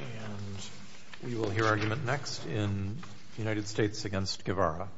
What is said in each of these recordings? And we will hear argument next in United States v. Guevara.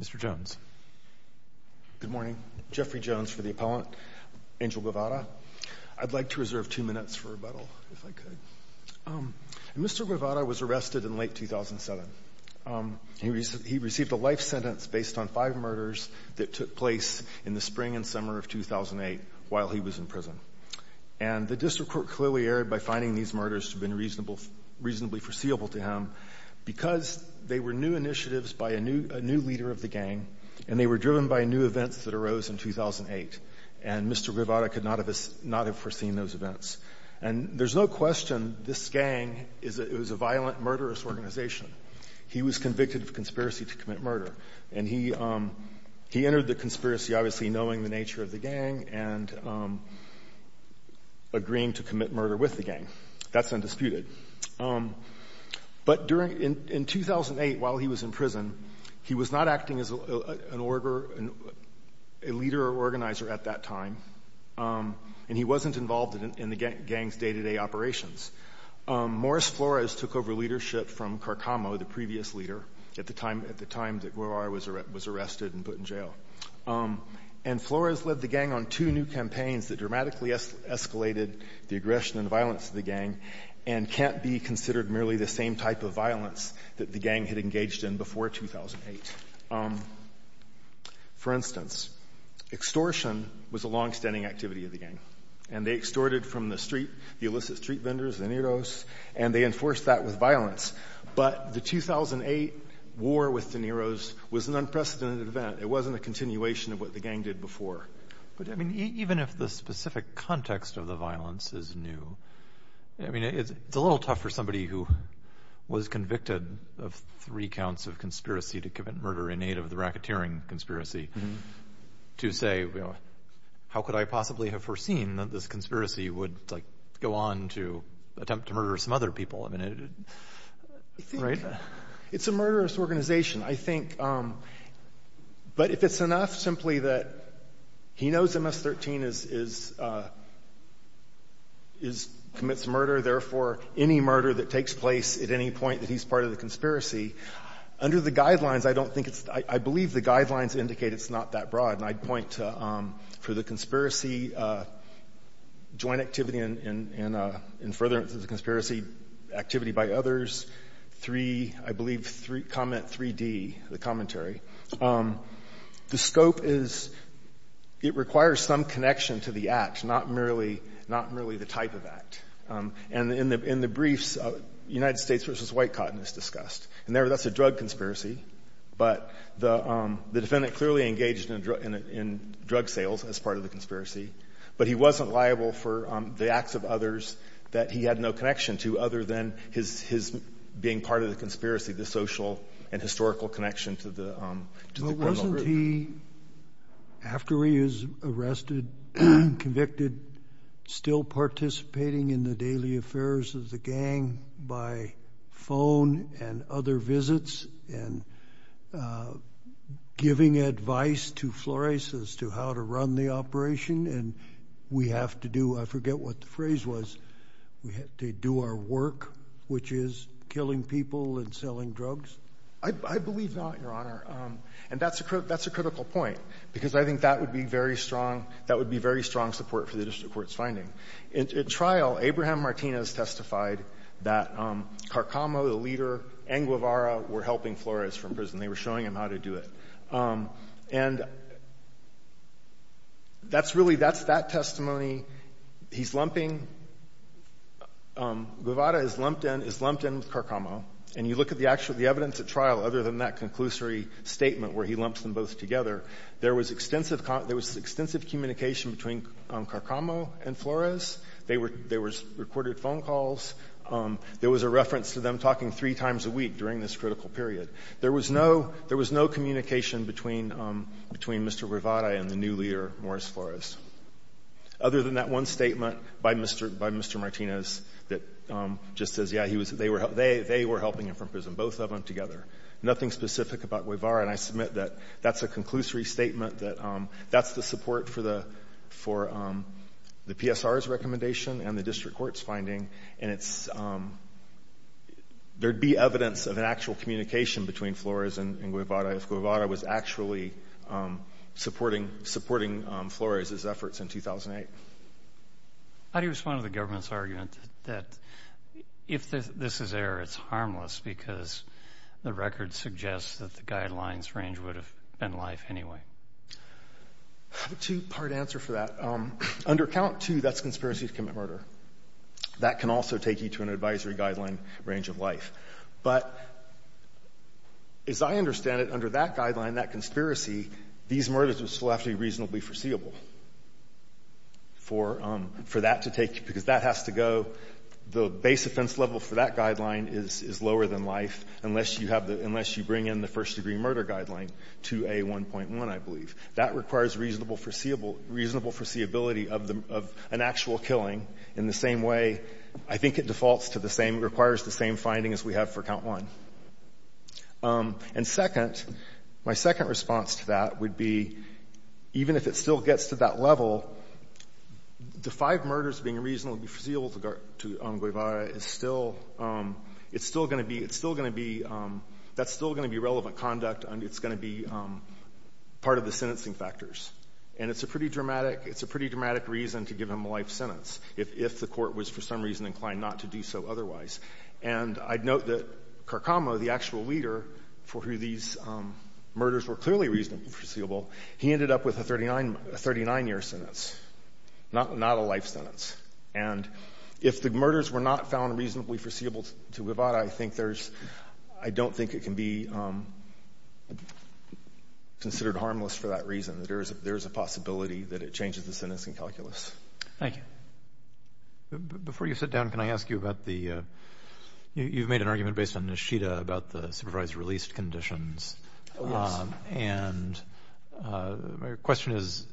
Mr. Jones. Good morning. Jeffrey Jones for the appellant. Angel Guevara. I'd like to reserve two minutes for rebuttal, if I could. Mr. Guevara was arrested in late 2007. He received a life sentence based on five murders that took place in the spring and summer of 2008 while he was in prison. And the district court clearly erred by finding these murders to have been reasonable – reasonably foreseeable to him because they were new initiatives by a new – a new leader of the gang, and they were driven by new events that arose in 2008. And Mr. Guevara could not have – not have foreseen those events. And there's no question this gang is a – it was a violent, murderous organization. He was convicted of conspiracy to commit murder. And he – he entered the conspiracy obviously knowing the nature of the gang and agreeing to commit murder with the gang. That's undisputed. But during – in 2008, while he was in prison, he was not acting as an order – a leader or organizer at that time, and he wasn't involved in the gang's day-to-day operations. Morris Flores took over leadership from Carcamo, the previous leader, at the time – at the time. And Flores led the gang on two new campaigns that dramatically escalated the aggression and violence of the gang and can't be considered merely the same type of violence that the gang had engaged in before 2008. For instance, extortion was a longstanding activity of the gang. And they extorted from the street, the illicit street vendors, the Neros, and they enforced that with violence. But the 2008 war with the Neros was an unprecedented event. It wasn't a continuation of what the gang did before. But, I mean, even if the specific context of the violence is new, I mean, it's a little tough for somebody who was convicted of three counts of conspiracy to commit murder in aid of the racketeering conspiracy to say, you know, how could I possibly have foreseen that this conspiracy would, like, go on to attempt to murder some other people? I mean, it – right? It's a murderous organization, I think. But if it's enough simply that he knows MS-13 commits murder, therefore, any murder that takes place at any point that he's part of the conspiracy, under the guidelines, I don't think it's – I believe the guidelines indicate it's not that broad. And I'd point to – for the conspiracy joint activity and further into the conspiracy activity by others, three – I believe comment 3D, the commentary. The scope is – it requires some connection to the act, not merely the type of act. And in the briefs, United States v. White Cotton is discussed. And that's a drug conspiracy. But the defendant clearly engaged in drug sales as part of the conspiracy. But he wasn't liable for the acts of others that he had no connection to other than his being part of the conspiracy, the social and historical connection to the criminal group. But wasn't he, after he is arrested, convicted, still participating in the daily affairs of the gang by phone and other visits and giving advice to Flores as to how to run the operation and we have to do – I forget what the phrase was – we have to do our work, which is killing people and selling drugs? I believe not, Your Honor. And that's a critical point because I think that would be very strong – that would be very strong support for the district court's finding. In trial, Abraham Martinez testified that Carcamo, the leader, and Guevara were helping Flores from prison. They were showing him how to do it. And that's really – that's that testimony. He's lumping – Guevara is lumped in – is lumped in with Carcamo. And you look at the actual – the evidence at trial, other than that conclusory statement where he lumps them both together, there was extensive – there was extensive communication between Carcamo and Flores. There were – there was recorded phone calls. There was a reference to them talking three times a week during this critical period. There was no – there was no communication between – between Mr. Guevara and the new leader, Morris Flores, other than that one statement by Mr. – by Mr. Martinez that just says, yeah, he was – they were – they were helping him from prison, both of them together. Nothing specific about Guevara. And I submit that that's a conclusory statement that – that's the support for the – for the PSR's recommendation and the district court's finding. And it's – there'd be evidence of an actual communication between Flores and Guevara if Guevara was actually supporting – supporting Flores's efforts in 2008. How do you respond to the government's argument that if this is error, it's harmless because the record suggests that the guidelines range would have been life anyway? I have a two-part answer for that. Under Count 2, that's conspiracy to commit murder. That can also take you to an advisory guideline range of life. But as I understand it, under that guideline, that conspiracy, these murders would still have to be reasonably foreseeable for – for that to take – because that has to go – the base offense level for that guideline is lower than life unless you have the – unless you bring in the first-degree murder guideline, 2A1.1, I believe. That requires reasonable foreseeable – reasonable foreseeability of the – of an actual killing in the same way – I think it defaults to the same – requires the same finding as we have for Count 1. And second, my second response to that would be, even if it still gets to that level, the five murders being reasonably foreseeable to Guevara is still – it's still going to be – it's still going to be – that's still going to be relevant conduct. And it's going to be part of the sentencing factors. And it's a pretty dramatic – it's a pretty dramatic reason to give him a life sentence if – if the Court was for some reason inclined not to do so otherwise. And I'd note that Carcamo, the actual leader for who these murders were clearly reasonably foreseeable, he ended up with a 39 – a 39-year sentence, not a life sentence. And if the murders were not found reasonably foreseeable to Guevara, I think there's – I don't think it can be considered harmless for that reason, that there is a possibility that it changes the sentencing calculus. Thank you. Before you sit down, can I ask you about the – you've made an argument based on Nishida about the supervised release conditions. Oh, yes. And my question is,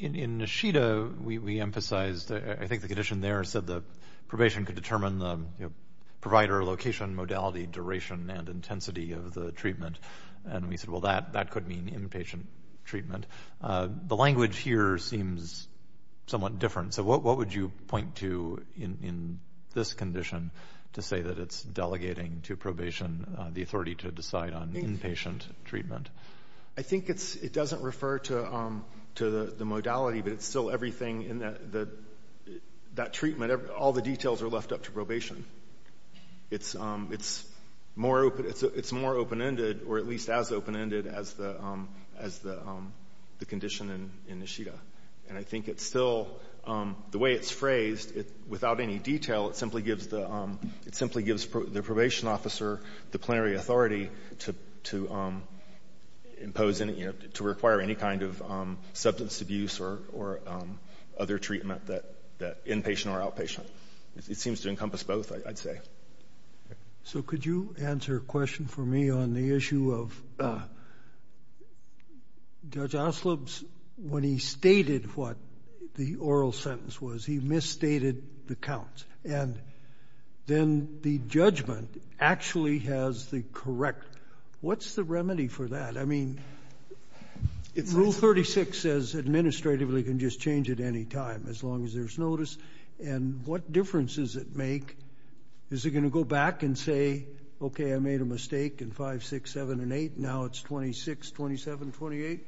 in Nishida, we emphasized – I think the condition there said that probation could determine the provider, location, modality, duration, and intensity of the treatment. And we said, well, that could mean inpatient treatment. The language here seems somewhat different. So what would you point to in this condition to say that it's delegating to probation the authority to decide on inpatient treatment? I think it's – it doesn't refer to – to the modality, but it's still everything in the – that treatment, all the details are left up to probation. It's more – it's more open-ended, or at least as open-ended as the condition in Nishida. And I think it's still – the way it's phrased, without any detail, it simply gives the – it simply gives the probation officer the plenary authority to impose any – to require any kind of substance abuse or other treatment that – inpatient or outpatient. It seems to encompass both, I'd say. So could you answer a question for me on the issue of Judge Oslob's – when he stated what the oral sentence was, he misstated the counts. And then the judgment actually has the correct – what's the remedy for that? I mean, Rule 36 says administratively can just change at any time as long as there's notice. And what difference does it make? Is it going to go back and say, okay, I made a mistake in 5, 6, 7, and 8, now it's 26, 27, 28?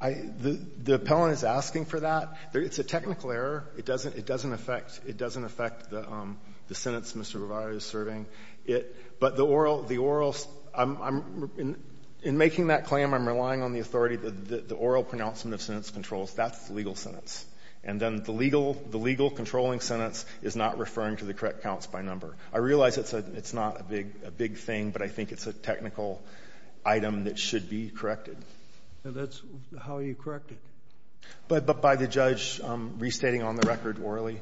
I – the – the appellant is asking for that. It's a technical error. It doesn't – it doesn't affect – it doesn't affect the sentence Mr. Breyer is serving. It – but the oral – the oral – I'm – in making that claim, I'm relying on the authority that the oral pronouncement of sentence controls. That's the legal sentence. And then the legal – the legal controlling sentence is not referring to the correct counts by number. I realize it's a – it's not a big – a big thing, but I think it's a technical item that should be corrected. And that's how you correct it? But by the judge restating on the record orally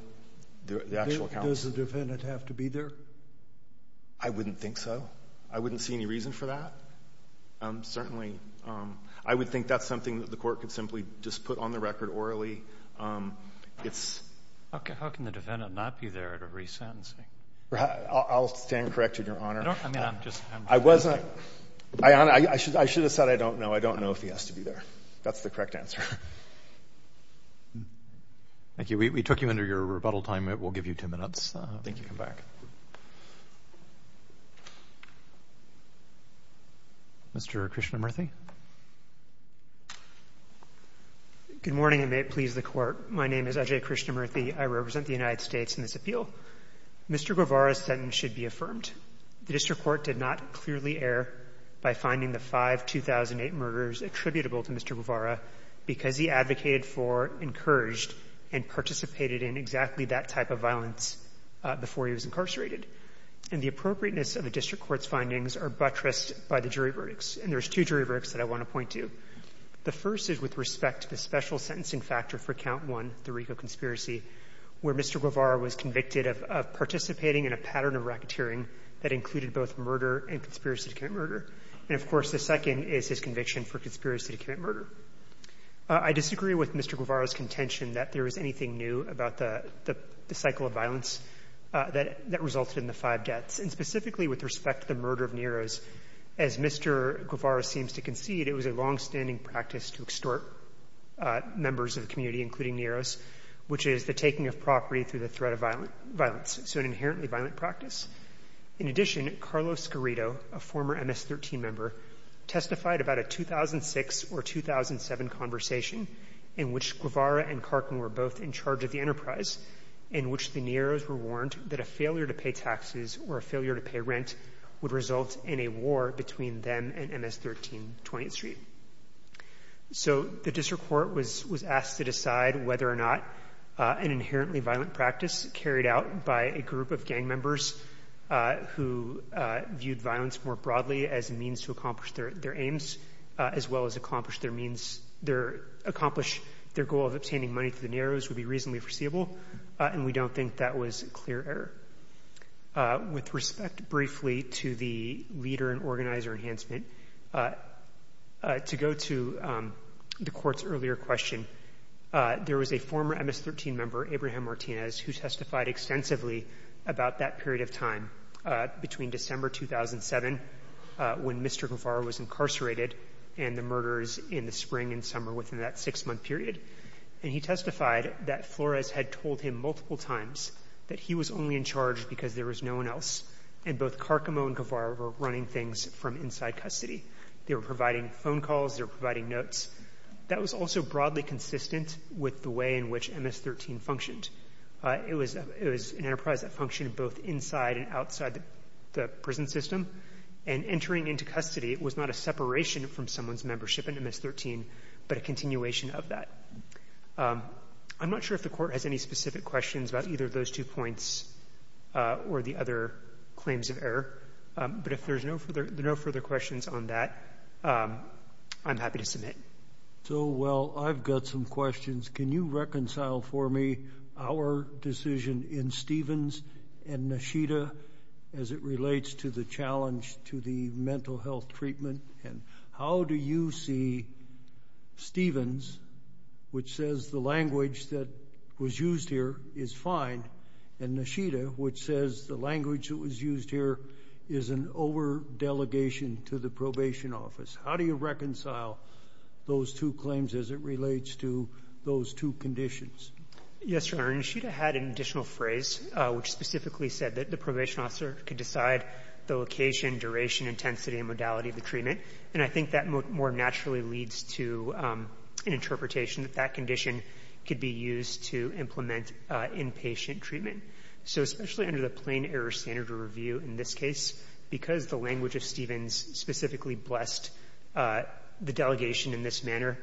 the actual counts. Does the defendant have to be there? I wouldn't think so. I wouldn't see any reason for that. Certainly, I would think that's something that the Court could simply just put on the record orally. It's How can the defendant not be there at a resentencing? I'll stand corrected, Your Honor. I don't – I mean, I'm just – I wasn't – I – I should have said I don't know. I don't know if he has to be there. That's the correct answer. Thank you. We took you under your rebuttal time. We'll give you two minutes. I think you can come back. Mr. Krishnamurthy. Good morning, and may it please the Court. My name is Ajay Krishnamurthy. I represent the United States in this appeal. Mr. Guevara's sentence should be affirmed. The district court did not clearly err by finding the five 2008 murders attributable to Mr. Guevara because he advocated for, encouraged, and participated in exactly that type of violence before he was incarcerated. And the appropriateness of the district court's findings are buttressed by the jury verdicts. And there's two jury verdicts that I want to point to. The first is with respect to the special sentencing factor for Count 1, the RICO conspiracy, where Mr. Guevara was convicted of participating in a pattern of racketeering that included both murder and conspiracy to commit murder. And, of course, the second is his conviction for conspiracy to commit murder. I disagree with Mr. Guevara's contention that there is anything new about the cycle of violence that resulted in the five deaths. And specifically with respect to the murder of Neiros, as Mr. Guevara seems to concede, it was a longstanding practice to extort members of the community, including Neiros, which is the taking of property through the threat of violence, so an inherently violent practice. In addition, Carlos Garrido, a former MS-13 member, testified about a 2006 or 2007 conversation in which Guevara and Karkin were both in charge of the enterprise, in which the Neiros were warned that a failure to pay taxes or a failure to pay rent would result in a war between them and MS-13 20th Street. So the district court was asked to decide whether or not an inherently violent practice carried out by a group of gang members who viewed violence more broadly as a means to accomplish their aims as well as accomplish their goal of obtaining money to the Neiros would be reasonably foreseeable, and we don't think that was a clear error. With respect, briefly, to the leader and organizer enhancement, to go to the court's earlier question, there was a former MS-13 member, Abraham Martinez, who testified extensively about that period of time between December 2007, when Mr. Guevara was incarcerated, and the murders in the spring and summer within that six-month period. And he testified that Flores had told him multiple times that he was only in charge because there was no one else, and both Karkin and Guevara were running things from inside custody. They were providing phone calls, they were providing notes. That was also broadly consistent with the way in which MS-13 functioned. It was an enterprise that functioned both inside and outside the prison system, and entering into custody was not a separation from someone's membership in MS-13, but a continuation of that. I'm not sure if the court has any specific questions about either of those two points or the other claims of error, but if there's no further questions on that, I'm happy to submit. So, well, I've got some questions. Can you reconcile for me our decision in Stevens and Nishida as it relates to the challenge to the mental health treatment? And how do you see Stevens, which says the language that was used here is fine, and Nishida, which says the language that was used here is an over-delegation to the probation office? How do you reconcile those two claims as it relates to those two conditions? Yes, Your Honor. Nishida had an additional phrase which specifically said that the probation officer could decide the location, duration, intensity, and modality of the treatment. And I think that more naturally leads to an interpretation that that condition could be used to implement inpatient treatment. So especially under the plain error standard of review in this case, because the language of Stevens specifically blessed the delegation in this manner,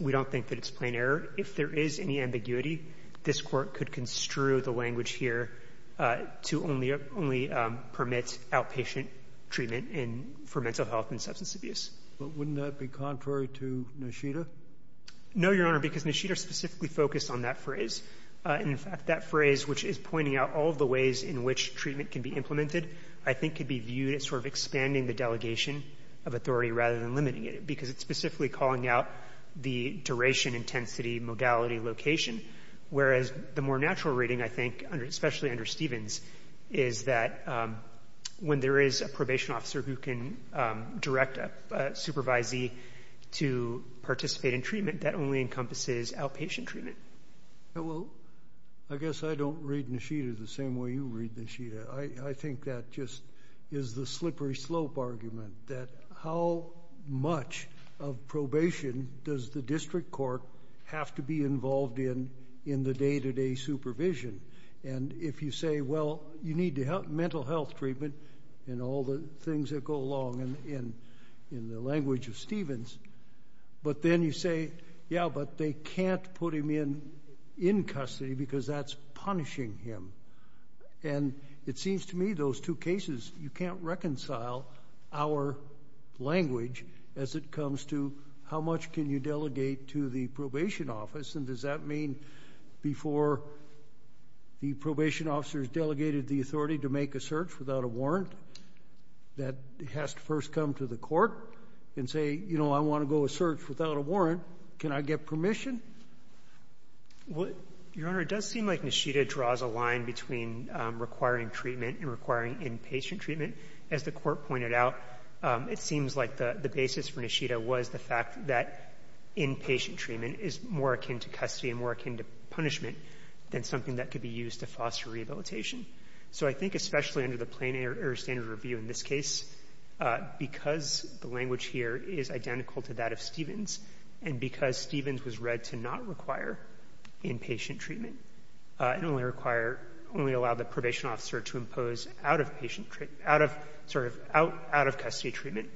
we don't think that it's plain error. If there is any ambiguity, this Court could construe the language here to only permit outpatient treatment for mental health and substance abuse. But wouldn't that be contrary to Nishida? No, Your Honor, because Nishida specifically focused on that phrase. In fact, that phrase, which is pointing out all the ways in which treatment can be implemented, I think could be viewed as sort of expanding the delegation of authority rather than limiting it, because it's specifically calling out the duration, intensity, modality, location, whereas the more natural reading, I think, especially under Stevens, is that when there is a probation officer who can direct a supervisee to participate in treatment, that only encompasses outpatient treatment. Well, I guess I don't read Nishida the same way you read Nishida. I think that just is the slippery slope argument, that how much of probation does the district court have to be involved in in the day-to-day supervision? And if you say, well, you need mental health treatment and all the things that go along in the language of Stevens, but then you say, yeah, but they can't put him in custody because that's punishing him. And it seems to me those two cases, you can't reconcile our language as it comes to how much can you delegate to the probation office, and does that mean before the probation officers delegated the authority to make a search without a warrant that has to first come to the court and say, you know, I want to go search without a warrant. Can I get permission? Well, Your Honor, it does seem like Nishida draws a line between requiring treatment and requiring inpatient treatment. As the Court pointed out, it seems like the basis for Nishida was the fact that inpatient treatment is more akin to custody and more akin to punishment than something that could be used to foster rehabilitation. So I think especially under the Plain Air Standard Review in this case, because the language here is identical to that of Stevens, and because Stevens was read to not require inpatient treatment and only require, only allow the probation officer to impose out-of-patient, out-of, sort of out-of-custody treatment,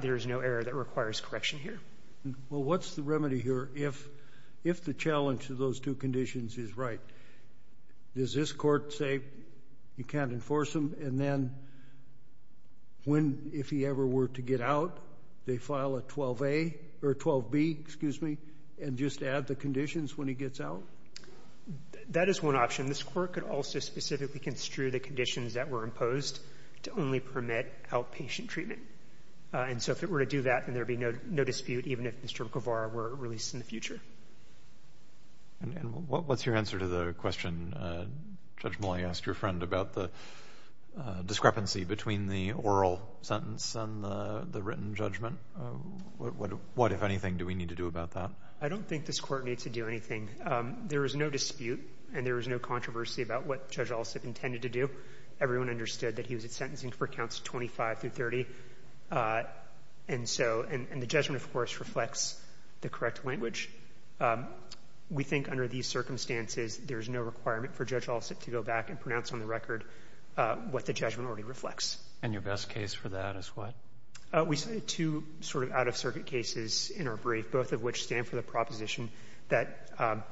there is no error that requires correction here. Well, what's the remedy here if the challenge to those two conditions is right? Does this Court say you can't enforce him, and then when, if he ever were to get out, they file a 12A, or 12B, excuse me, and just add the conditions when he gets out? That is one option. This Court could also specifically construe the conditions that were imposed to only permit out-patient treatment. And so if it were to do that, then there would be no dispute, even if Mr. Guevara were released in the future. And what's your answer to the question Judge Mullay asked your friend about the discrepancy between the oral sentence and the written judgment? What, if anything, do we need to do about that? I don't think this Court needs to do anything. There is no dispute, and there is no controversy about what Judge Olisip intended to do. Everyone understood that he was sentencing for counts 25 through 30, and so, and the judgment, of course, reflects the correct language. We think under these circumstances, there is no requirement for Judge Olisip to go back and pronounce on the record what the judgment already reflects. And your best case for that is what? Two sort of out-of-circuit cases in our brief, both of which stand for the proposition that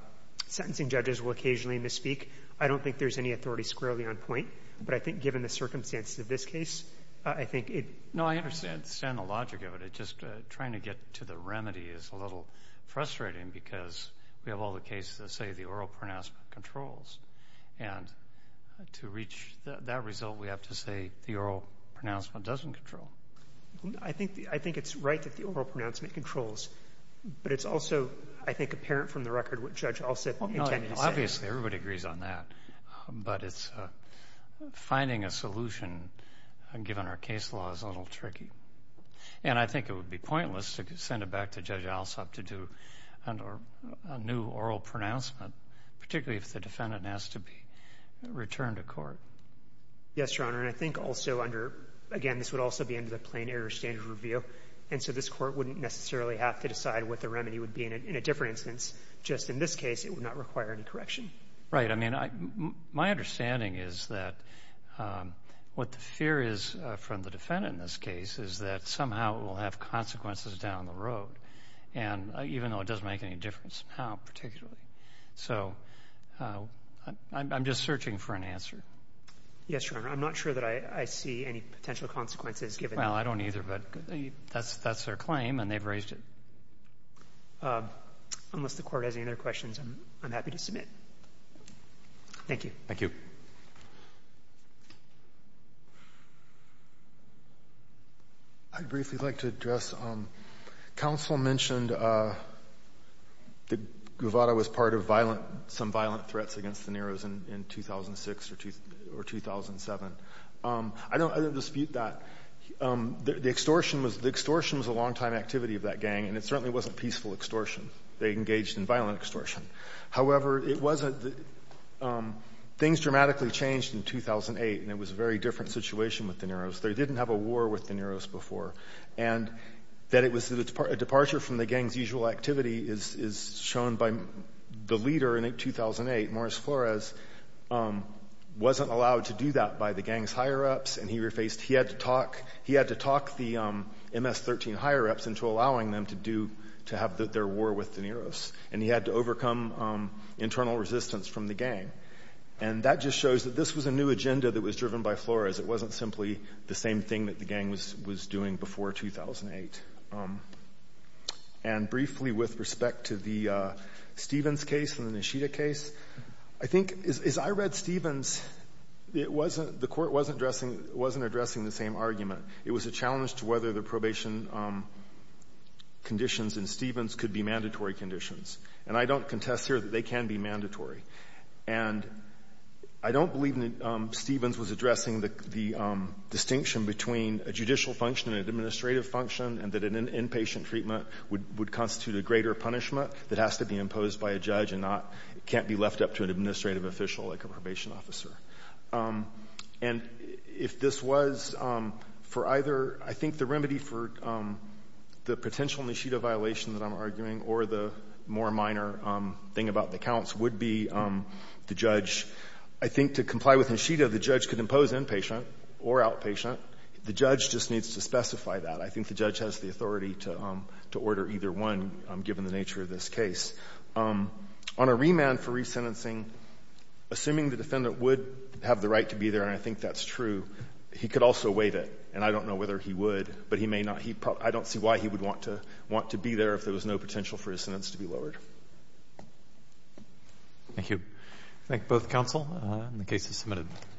sentencing judges will occasionally misspeak. I don't think there's any authority squarely on point, but I think given the circumstances of this case, I think it... No, I understand the logic of it. It's just trying to get to the remedy is a little frustrating because we have all the cases that say the oral pronouncement controls, and to reach that result, we have to say the oral pronouncement doesn't control. I think it's right that the oral pronouncement controls, but it's also, I think, apparent from the record what Judge Olisip intended to say. Obviously, everybody agrees on that, but it's finding a solution, given our case law, is a little tricky. And I think it would be pointless to send it back to Judge Olisip to do a new oral pronouncement, particularly if the defendant has to be returned to court. Yes, Your Honor, and I think also under... Again, this would also be under the Plain Error Standard Review, and so this Court wouldn't necessarily have to decide what the remedy would be in a different instance. Just in this case, it would not require any correction. Right. I mean, my understanding is that what the fear is from the defendant in this case is that somehow it will have consequences down the road, even though it doesn't make any difference how particularly. So I'm just searching for an answer. Yes, Your Honor. I'm not sure that I see any potential consequences given... Well, I don't either, but that's their claim, and they've raised it. Unless the Court has any other questions, I'm happy to submit. Thank you. Thank you. I'd briefly like to address... Counsel mentioned that Guevara was part of some violent threats against the Neros in 2006 or 2007. I don't dispute that. The extortion was a longtime activity of that gang, and it certainly wasn't peaceful extortion. They engaged in violent extortion. However, it wasn't... Things dramatically changed in 2008, and it was a very different situation with the Neros. They didn't have a war with the Neros before, and that it was a departure from the gang's usual activity is shown by the leader in 2008, Morris Flores, wasn't allowed to do that by the gang's higher-ups, and he had to talk the MS-13 higher-ups into allowing them to have their war with the Neros, and he had to overcome internal resistance from the gang. And that just shows that this was a new agenda that was driven by Flores. It wasn't simply the same thing that the gang was doing before 2008. And briefly, with respect to the Stevens case and the Nishida case, I think as I read Stevens, it wasn't the Court wasn't addressing the same argument. It was a challenge to whether the probation conditions in Stevens could be mandatory conditions. And I don't contest here that they can be mandatory. And I don't believe that Stevens was addressing the distinction between a judicial function and an administrative function, and that an inpatient treatment would constitute a greater punishment that has to be imposed by a judge and not can't be left up to an administrative official like a probation officer. And if this was for either, I think the remedy for the potential Nishida violation that I'm arguing or the more minor thing about the counts would be the judge, I think to comply with Nishida, the judge could impose inpatient or outpatient. The judge just needs to specify that. I think the judge has the authority to order either one, given the nature of this case. On a remand for resentencing, assuming the defendant would have the right to be there, and I think that's true, he could also waive it. And I don't know whether he would, but he may not. I don't see why he would want to be there if there was no potential for his sentence to be lowered. Thank you. I thank both counsel. The case is submitted.